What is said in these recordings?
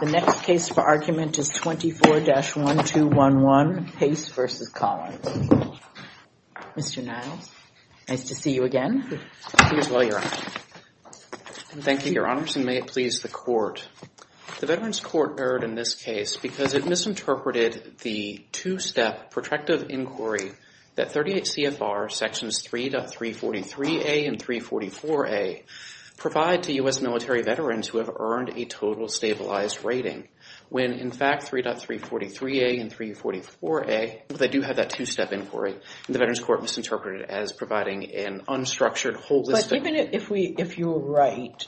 The next case for argument is 24-1211, Pace v. Collins. Mr. Niles, nice to see you again. Please, while you're on. Thank you, Your Honors, and may it please the Court. The Veterans Court erred in this case because it misinterpreted the two-step protractive inquiry that 38 CFR sections 3.343a and 344a provide to US military veterans who have earned a total stabilized rating, when, in fact, 3.343a and 344a, they do have that two-step inquiry. The Veterans Court misinterpreted it as providing an unstructured, holistic... But even if you were right,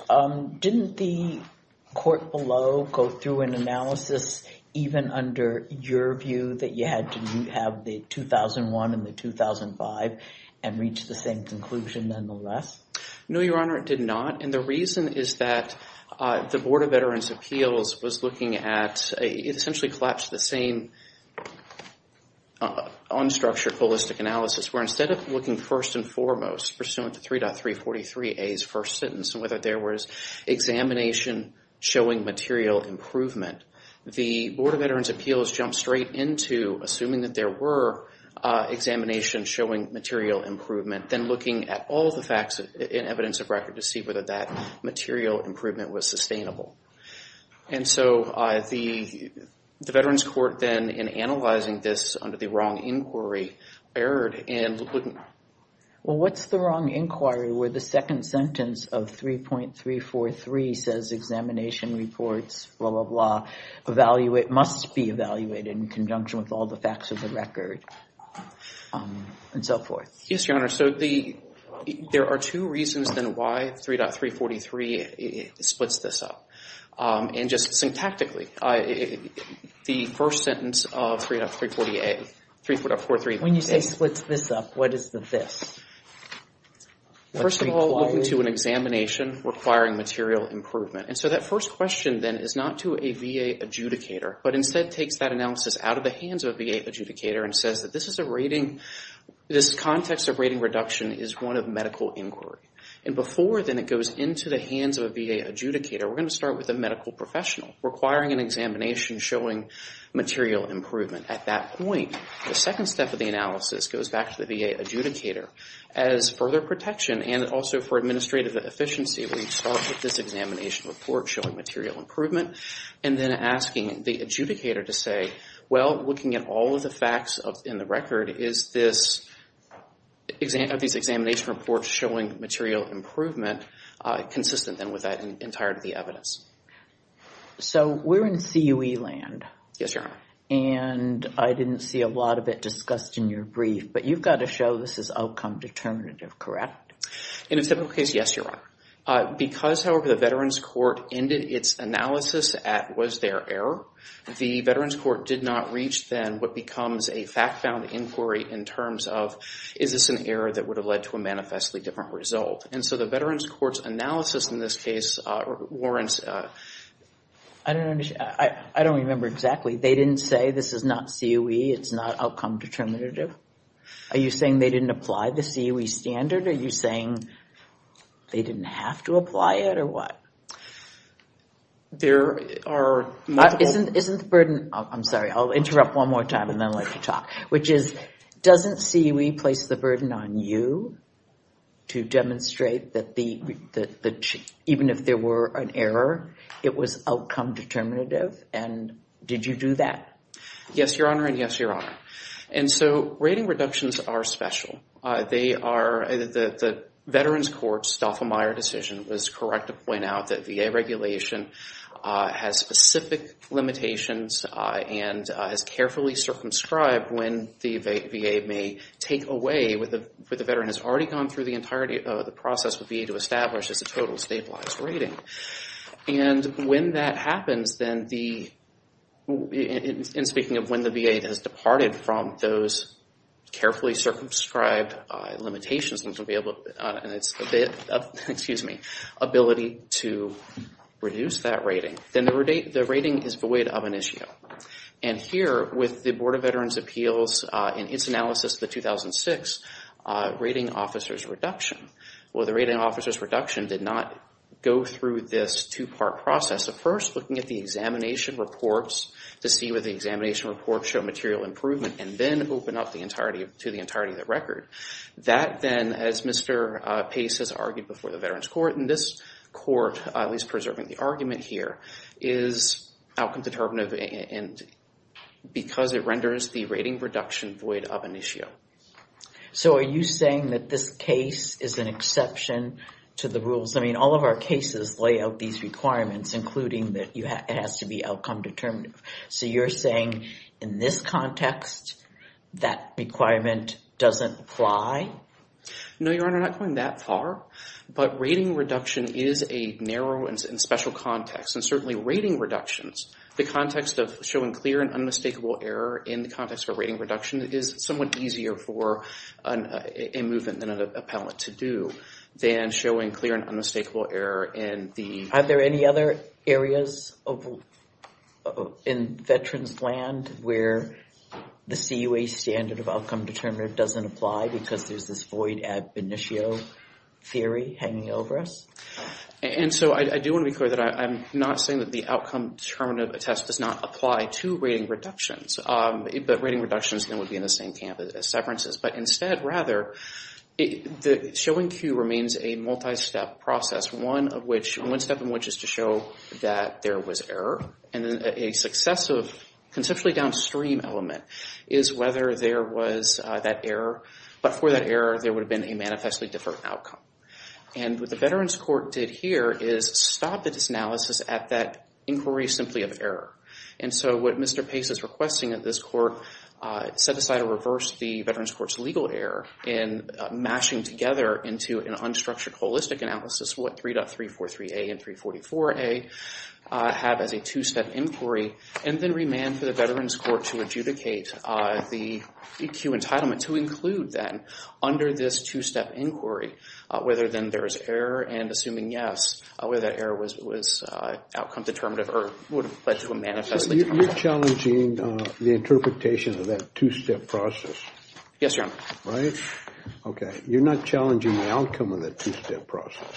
didn't the Court below go through an analysis even under your view that you had to have the 2001 and the 2005 and reach the same conclusion nonetheless? No, Your Honor, it did not. And the reason is that the Board of Veterans' Appeals was looking at... It essentially collapsed the same unstructured, holistic analysis where instead of looking first and foremost, pursuant to 3.343a's first sentence, and whether there was examination showing material improvement, the Board of Veterans' Appeals jumped straight into assuming that there were examinations showing material improvement, then looking at all the facts and evidence of record to see whether that material improvement was sustainable. And so the Veterans Court then, in analyzing this under the wrong inquiry, erred and wouldn't... Well, what's the wrong inquiry where the second sentence of 3.343 says examination reports, blah, blah, blah, must be evaluated in conjunction with all the facts of the record and so forth? Yes, Your Honor, so the... There are two reasons then why 3.343 splits this up. And just syntactically, the first sentence of 3.343a... 3.43... When you say splits this up, what is the this? First of all, looking to an examination requiring material improvement. And so that first question then is not to a VA adjudicator, but instead takes that analysis out of the hands of a VA adjudicator and says that this is a rating... This context of rating reduction is one of medical inquiry. And before then it goes into the hands of a VA adjudicator, we're going to start with a medical professional requiring an examination showing material improvement. At that point, the second step of the analysis goes back to the VA adjudicator as further protection and also for administrative efficiency, we start with this examination report showing material improvement and then asking the adjudicator to say, well, looking at all of the facts in the record, is this examination report showing material improvement consistent then with that entirety of the evidence? So we're in CUE land. Yes, Your Honor. And I didn't see a lot of it discussed in your brief, but you've got to show this is outcome determinative, correct? In a typical case, yes, Your Honor. Because, however, the Veterans Court ended its analysis at was there error, the Veterans Court did not reach then what becomes a fact-found inquiry in terms of, is this an error that would have led to a manifestly different result? And so the Veterans Court's analysis in this case warrants... I don't understand. I don't remember exactly. They didn't say this is not CUE, it's not outcome determinative? Are you saying they didn't apply the CUE standard? Are you saying they didn't have to apply it or what? There are... Isn't the burden... I'm sorry, I'll interrupt one more time and then I'd like to talk. Which is, doesn't CUE place the burden on you to demonstrate that even if there were an error, it was outcome determinative? And did you do that? Yes, Your Honor, and yes, Your Honor. And so rating reductions are special. They are... The Veterans Court's Doffelmayer decision was correct to point out that VA regulation has specific limitations and is carefully circumscribed when the VA may take away... The veteran has already gone through the process with VA to establish as a total stabilized rating. And when that happens, then the... And speaking of when the VA has departed from those carefully circumscribed limitations, and its ability to reduce that rating, then the rating is void of an issue. And here, with the Board of Veterans' Appeals in its analysis of the 2006 rating officer's reduction, well, the rating officer's reduction did not go through this two-part process. So first, looking at the examination reports to see whether the examination reports show material improvement and then open up to the entirety of the record. That then, as Mr. Pace has argued before the Veterans Court, and this court is preserving the argument here, is outcome-determinative because it renders the rating reduction void of an issue. So are you saying that this case is an exception to the rules? I mean, all of our cases lay out these requirements, including that it has to be outcome-determinative. So you're saying, in this context, that requirement doesn't apply? No, Your Honor, not going that far. But rating reduction is a narrow and special context. And certainly, rating reductions, the context of showing clear and unmistakable error in the context of a rating reduction is somewhat easier for a movement than an appellant to do than showing clear and unmistakable error in the... Are there any other areas in Veterans' land where the CUA standard of outcome-determinative doesn't apply because there's this void ab initio theory hanging over us? And so I do want to be clear that I'm not saying that the outcome-determinative test does not apply to rating reductions. But rating reductions then would be in the same camp as severances. But instead, rather, showing Q remains a multi-step process, one step in which is to show that there was error. And then a successive, conceptually downstream element is whether there was that error. But for that error, there would have been a manifestly different outcome. And what the Veterans' Court did here is stop this analysis at that inquiry simply of error. And so what Mr. Pace is requesting of this court, set aside or reversed the Veterans' Court's legal error in mashing together into an unstructured holistic analysis what 3.343A and 344A have as a two-step inquiry, and then remand to the Veterans' Court to adjudicate the EQ entitlement to include then under this two-step inquiry whether then there is error and assuming yes, whether that error was outcome-determinative or would have led to a manifestly different outcome. So you're challenging the interpretation of that two-step process? Yes, Your Honor. Right? Okay, you're not challenging the outcome of that two-step process?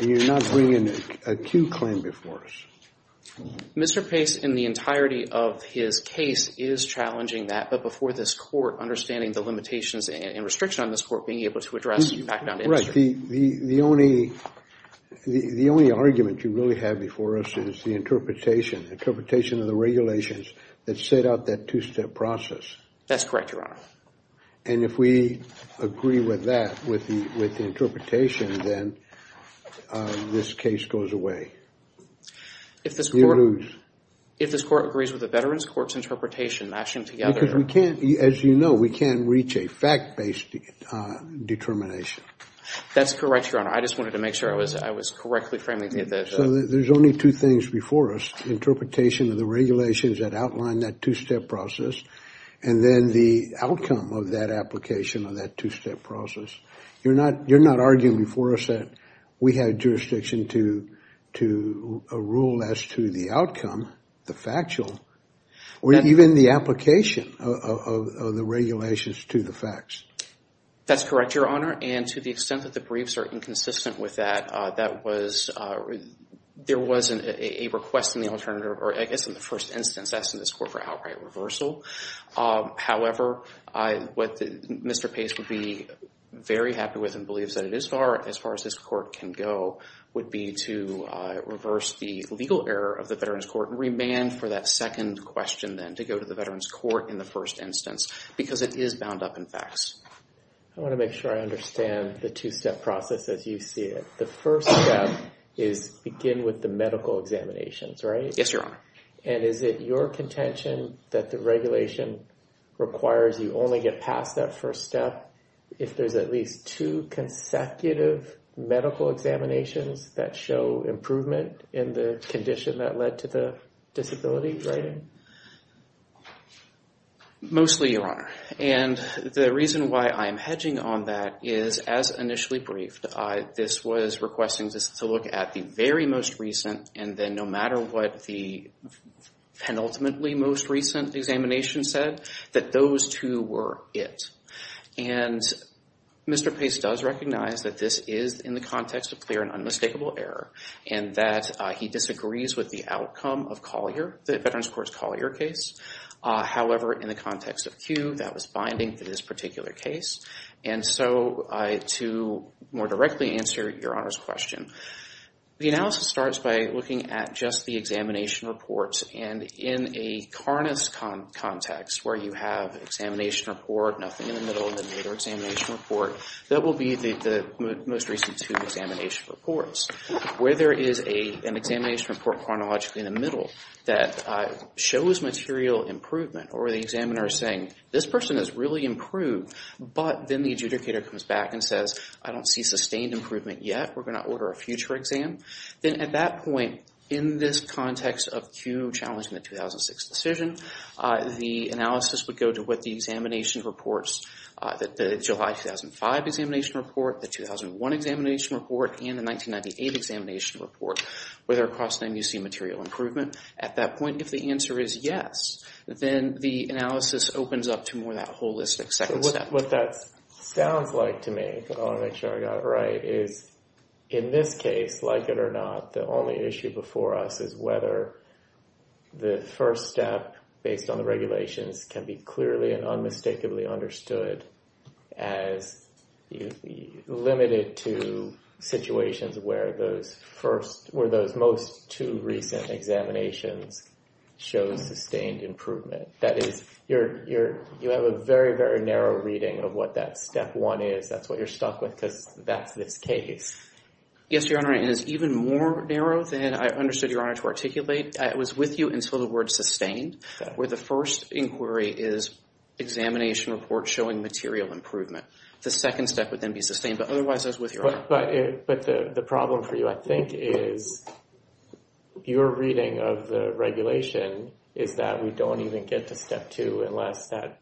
And you're not bringing a Q claim before us? Mr. Pace, in the entirety of his case, is challenging that, but before this court, understanding the limitations and restriction on this court being able to address back down to industry. Right, the only argument you really have before us is the interpretation, interpretation of the regulations that set out that two-step process. That's correct, Your Honor. And if we agree with that, with the interpretation, then this case goes away. If this court agrees with the Veterans' Court's interpretation, mashing together. Because we can't, as you know, we can't reach a fact-based determination. That's correct, Your Honor. I just wanted to make sure I was correctly framing the. So there's only two things before us, interpretation of the regulations that outline that two-step process, and then the outcome of that application of that two-step process. You're not arguing before us that we have jurisdiction to rule as to the outcome, the factual, or even the application of the regulations to the facts. That's correct, Your Honor. And to the extent that the briefs are inconsistent with that, that was, there was a request in the alternative, or I guess in the first instance, assessed in this court for outright reversal. However, what Mr. Pace would be very happy with and believes that it is far, as far as this court can go, would be to reverse the legal error of the Veterans' Court and remand for that second question, then, to go to the Veterans' Court in the first instance, because it is bound up in facts. I wanna make sure I understand the two-step process as you see it. The first step is begin with the medical examinations, right? Yes, Your Honor. And is it your contention that the regulation requires you only get past that first step if there's at least two consecutive medical examinations that show improvement in the condition that led to the disability, right? Mostly, Your Honor. And the reason why I'm hedging on that is as initially briefed, this was requesting just to look at the very most recent and then no matter what the penultimately most recent examination said, that those two were it. And Mr. Pace does recognize that this is in the context of clear and unmistakable error and that he disagrees with the outcome of Collier, the Veterans' Court's Collier case. However, in the context of Q, that was binding to this particular case. And so, to more directly answer Your Honor's question, the analysis starts by looking at just the examination reports. And in a carnist context, where you have examination report, nothing in the middle, and then another examination report, that will be the most recent two examination reports. Where there is an examination report chronologically in the middle that shows material improvement or the examiner is saying, this person has really improved, but then the adjudicator comes back and says, I don't see sustained improvement yet. We're gonna order a future exam. Then at that point, in this context of Q challenging the 2006 decision, the analysis would go to what the examination reports, the July 2005 examination report, the 2001 examination report, and the 1998 examination report. Whether across them you see material improvement. At that point, if the answer is yes, then the analysis opens up to more that holistic second step. What that sounds like to me, I wanna make sure I got it right, is in this case, like it or not, the only issue before us is whether the first step based on the regulations can be clearly and unmistakably understood as limited to situations where those first, where those most two recent examinations shows sustained improvement. That is, you have a very, very narrow reading of what that step one is. That's what you're stuck with, because that's this case. Yes, Your Honor, and it's even more narrow than I understood Your Honor to articulate. I was with you until the word sustained, where the first inquiry is examination report showing material improvement. The second step would then be sustained, but otherwise I was with Your Honor. But the problem for you, I think, is your reading of the regulation is that we don't even get to step two unless that,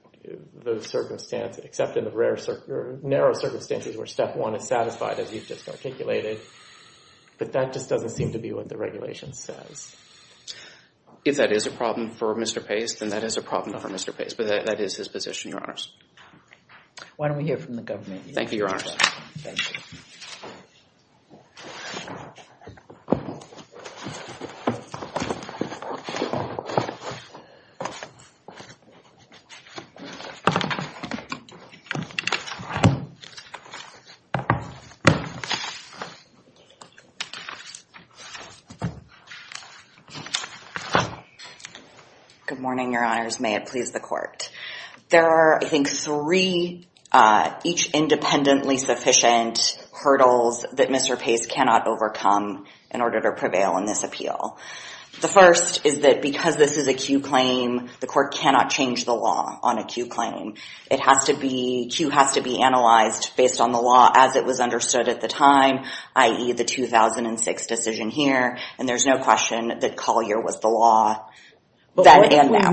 those circumstances, except in the narrow circumstances where step one is satisfied, as you've just articulated. But that just doesn't seem to be what the regulation says. If that is a problem for Mr. Pace, then that is a problem for Mr. Pace, but that is his position, Your Honors. Why don't we hear from the government? Thank you, Your Honors. Thank you. Good morning, Your Honors. May it please the Court. There are, I think, three, each independently sufficient hurdles that Mr. Pace cannot overcome in order to prevail in this appeal. The first is that because this is a Q claim, the Court cannot change the law on a Q claim. It has to be, Q has to be analyzed based on the law as it was understood at the time, i.e. the 2006 decision here, and there's no question that Collier was the law then and now.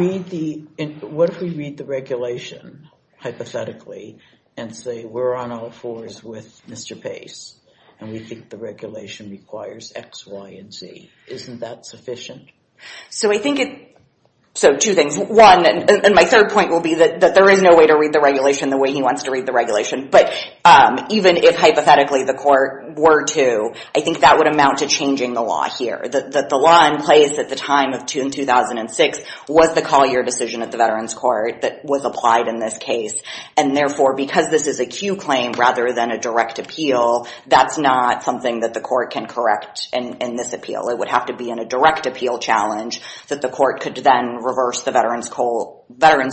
But what if we read the regulation hypothetically and say we're on all fours with Mr. Pace and we think the regulation requires X, Y, and Z? Isn't that sufficient? So I think it, so two things. One, and my third point will be that there is no way to read the regulation the way he wants to read the regulation, but even if hypothetically the Court were to, I think that would amount to changing the law here, that the law in place at the time of June 2006 was the Collier decision at the Veterans Court that was applied in this case, and therefore because this is a Q claim rather than a direct appeal, that's not something that the Court can correct in this appeal. It would have to be in a direct appeal challenge that the Court could then reverse the Veterans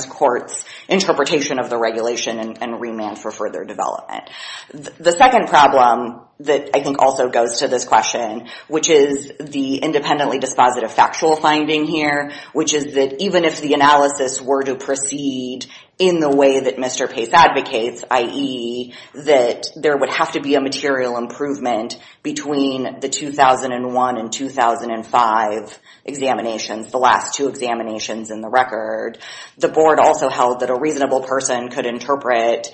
Court's interpretation of the regulation and remand for further development. The second problem that I think also goes to this question, which is the independently dispositive factual finding here, which is that even if the analysis were to proceed in the way that Mr. Pace advocates, i.e. that there would have to be a material improvement between the 2001 and 2005 examinations, the last two examinations in the record, the Board also held that a reasonable person could interpret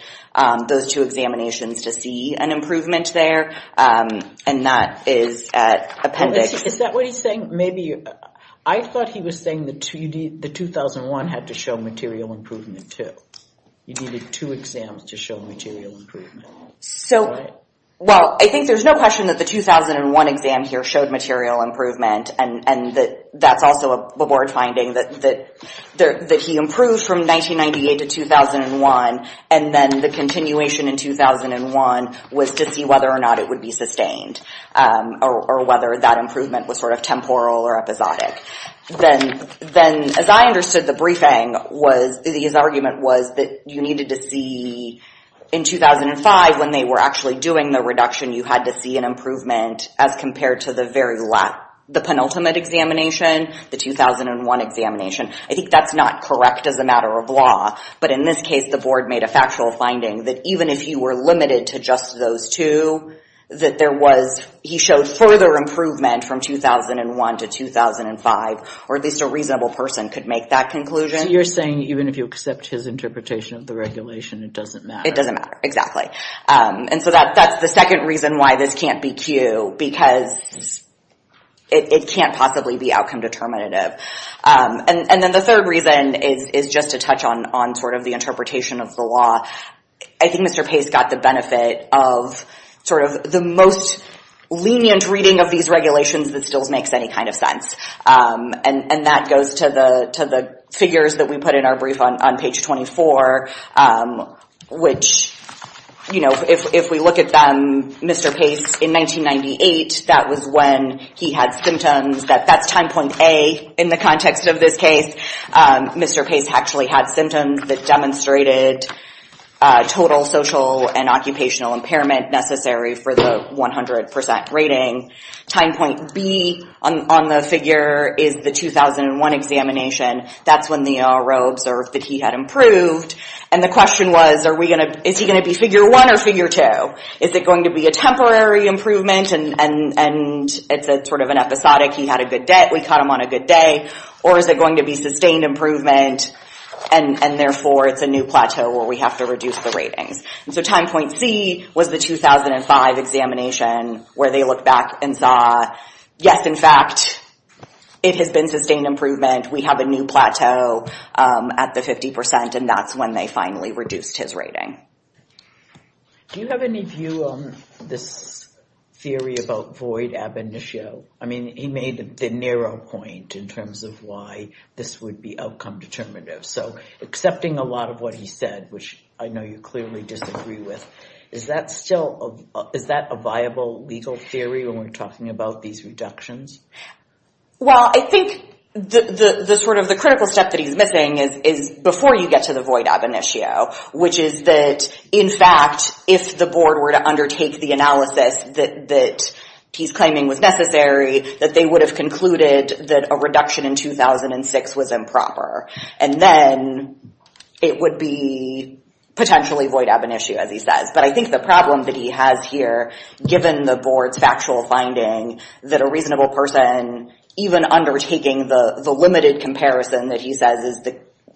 those two examinations to see an improvement there, and that is at appendix. Is that what he's saying? Maybe, I thought he was saying the 2001 had to show material improvement too. You needed two exams to show material improvement. So, well, I think there's no question that the 2001 exam here showed material improvement, and that's also a Board finding that he improved from 1998 to 2001, and then the continuation in 2001 was to see whether or not it would be sustained, or whether that improvement was sort of temporal or episodic. Then, as I understood the briefing was, his argument was that you needed to see, in 2005, when they were actually doing the reduction, you had to see an improvement as compared to the penultimate examination, the 2001 examination. I think that's not correct as a matter of law, but in this case, the Board made a factual finding that even if you were limited to just those two, that there was, he showed further improvement from 2001 to 2005, or at least a reasonable person could make that conclusion. So you're saying even if you accept his interpretation of the regulation, it doesn't matter. It doesn't matter, exactly. And so that's the second reason why this can't be Q, because it can't possibly be outcome determinative. And then the third reason is just to touch on sort of the interpretation of the law. I think Mr. Pace got the benefit of sort of the most lenient reading of these regulations that still makes any kind of sense, and that goes to the figures that we put in our brief on page 24, which, you know, if we look at them, Mr. Pace in 1998, that was when he had symptoms, that's time point A in the context of this case. Mr. Pace actually had symptoms that demonstrated total social and occupational impairment necessary for the 100% rating. Time point B on the figure is the 2001 examination. That's when the RO observed that he had improved, and the question was, is he gonna be figure one or figure two? Is it going to be a temporary improvement, and it's sort of an episodic, he had a good day, we caught him on a good day, or is it going to be sustained improvement, and therefore it's a new plateau where we have to reduce the ratings. And so time point C was the 2005 examination where they looked back and saw, yes, in fact, it has been sustained improvement, we have a new plateau at the 50%, and that's when they finally reduced his rating. Do you have any view on this theory about void ab initio? I mean, he made the narrow point in terms of why this would be outcome determinative. So accepting a lot of what he said, which I know you clearly disagree with, is that still, is that a viable legal theory when we're talking about these reductions? Well, I think the sort of the critical step that he's missing is before you get to the void ab initio, which is that, in fact, if the board were to undertake the analysis that he's claiming was necessary, that they would have concluded that a reduction in 2006 was improper, and then it would be potentially void ab initio, as he says. But I think the problem that he has here, given the board's factual finding that a reasonable person, even undertaking the limited comparison that he says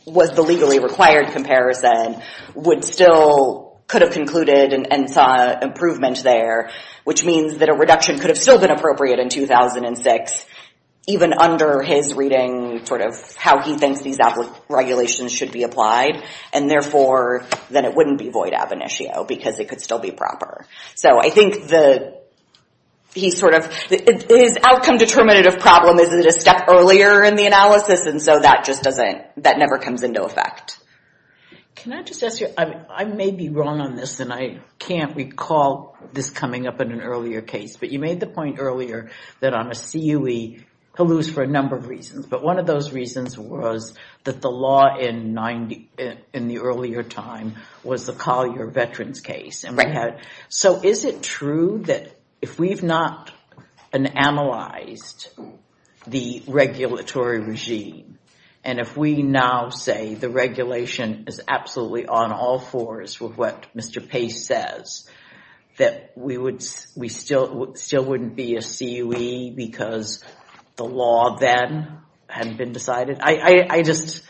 was the legally required comparison, would still, could have concluded and saw improvement there, which means that a reduction could have still been appropriate in 2006, even under his reading, sort of how he thinks these regulations should be applied, and therefore, then it wouldn't be void ab initio, because it could still be proper. So I think the, he sort of, his outcome determinative problem isn't a step earlier in the analysis, and so that just doesn't, that never comes into effect. Can I just ask you, I may be wrong on this, and I can't recall this coming up in an earlier case, but you made the point earlier that on a CUE, he'll lose for a number of reasons, but one of those reasons was that the law in 90, in the earlier time, was the Collier Veterans case, and we had, so is it true that if we've not analyzed the regulatory regime, and if we now say the regulation is absolutely on all fours with what Mr. Pace says, that we would, we still wouldn't be a CUE because the law then hadn't been decided? I just.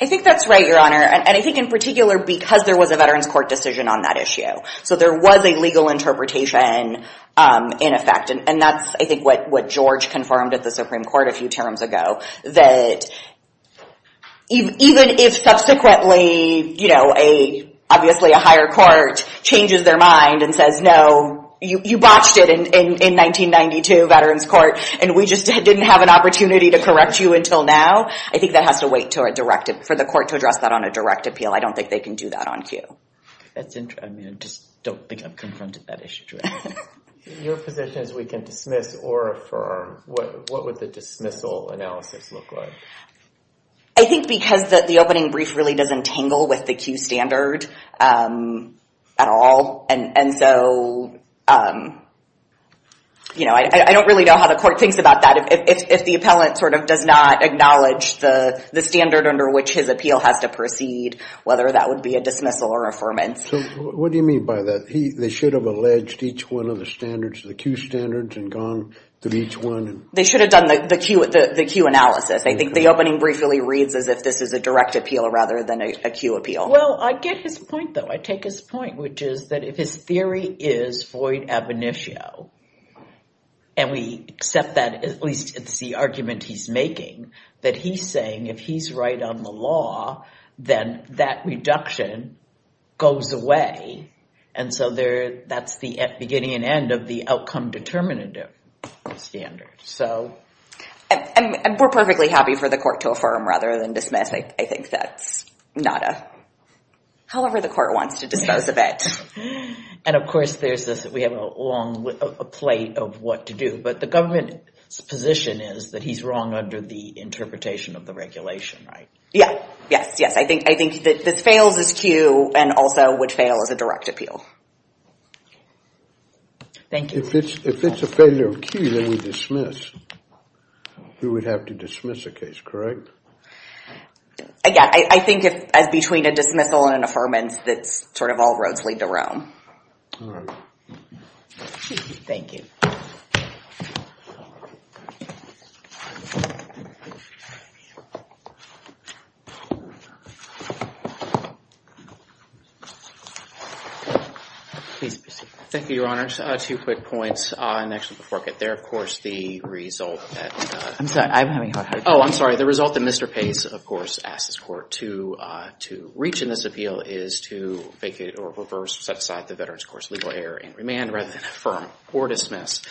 I think that's right, Your Honor, and I think in particular, because there was a Veterans Court decision on that issue, so there was a legal interpretation in effect, and that's, I think, what George confirmed at the Supreme Court a few terms ago, that even if subsequently, you know, obviously a higher court changes their mind and says, no, you botched it in 1992, Veterans Court, and we just didn't have an opportunity to correct you until now, I think that has to wait for the court to address that on a direct appeal. I don't think they can do that on CUE. That's interesting. I mean, I just don't think I've confronted that issue directly. Your position is we can dismiss or affirm. What would the dismissal analysis look like? I think because the opening brief really doesn't tangle with the CUE standard at all, and so, you know, I don't really know how the court thinks about that. If the appellant sort of does not acknowledge the standard under which his appeal has to proceed, whether that would be a dismissal or affirmance. So what do you mean by that? They should have alleged each one of the standards, the CUE standards, and gone through each one. They should have done the CUE analysis. I think the opening brief really reads as if this is a direct appeal rather than a CUE appeal. Well, I get his point, though. I take his point, which is that if his theory is void ab initio, and we accept that, at least it's the argument he's making, that he's saying if he's right on the law, then that reduction goes away, and so that's the beginning and end of the outcome determinative standard, so. And we're perfectly happy for the court to affirm rather than dismiss. I think that's not a... However the court wants to dispose of it. And of course, there's this, we have a long plate of what to do, but the government's position is that he's wrong under the interpretation of the regulation, right? Yeah, yes, yes. I think that this fails as CUE and also would fail as a direct appeal. Thank you. If it's a failure of CUE, then we dismiss. We would have to dismiss a case, correct? Again, I think as between a dismissal and an affirmance, that's sort of all roads lead to Rome. Thank you. Please proceed. Thank you, Your Honor. Two quick points, and actually before I get there, of course, the result that... I'm sorry, I'm having a hard time. Oh, I'm sorry. The result that Mr. Pace, of course, asks this court to reach in this appeal is to vacate or reverse, set aside the veterans' course legal error and remand rather than affirm or dismiss.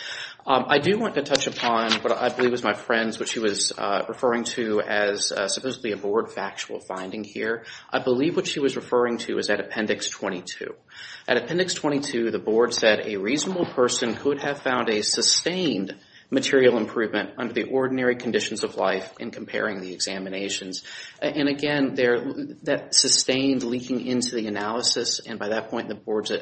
I do want to touch upon what I believe is my friend's, what she was referring to as supposedly a board factual finding here. I believe what she was referring to is at Appendix 22. At Appendix 22, the board said a reasonable person could have found a sustained material improvement under the ordinary conditions of life in comparing the examinations. And again, that sustained leaking into the analysis, and by that point, the board's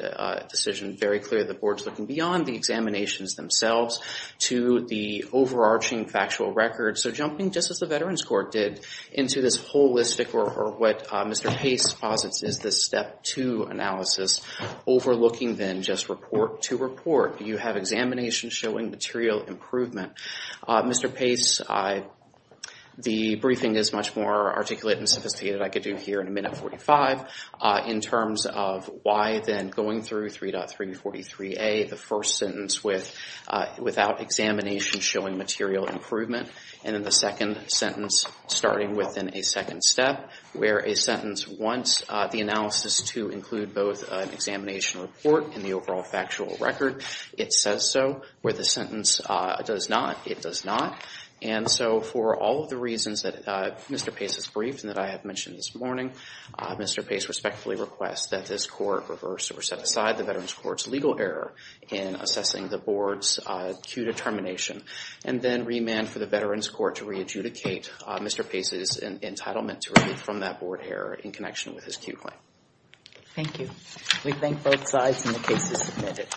decision very clear. The board's looking beyond the examinations themselves to the overarching factual records. So jumping just as the veterans' court did into this holistic, or what Mr. Pace posits is this step two analysis, overlooking then just report to report. You have examinations showing material improvement. Mr. Pace, the briefing is much more articulate and sophisticated I could do here in a minute 45 in terms of why then going through 3.343A, the first sentence without examination showing material improvement, and then the second sentence starting within a second step where a sentence wants the analysis to include both an examination report and the overall factual record. It says so, where the sentence does not, it does not. And so for all of the reasons that Mr. Pace has briefed and that I have mentioned this morning, Mr. Pace respectfully requests that this court reverse or set aside the veterans' court's legal error in assessing the board's Q determination, and then remand for the veterans' court to re-adjudicate Mr. Pace's entitlement to remove from that board error in connection with his Q claim. Thank you. We thank both sides, and the case is submitted.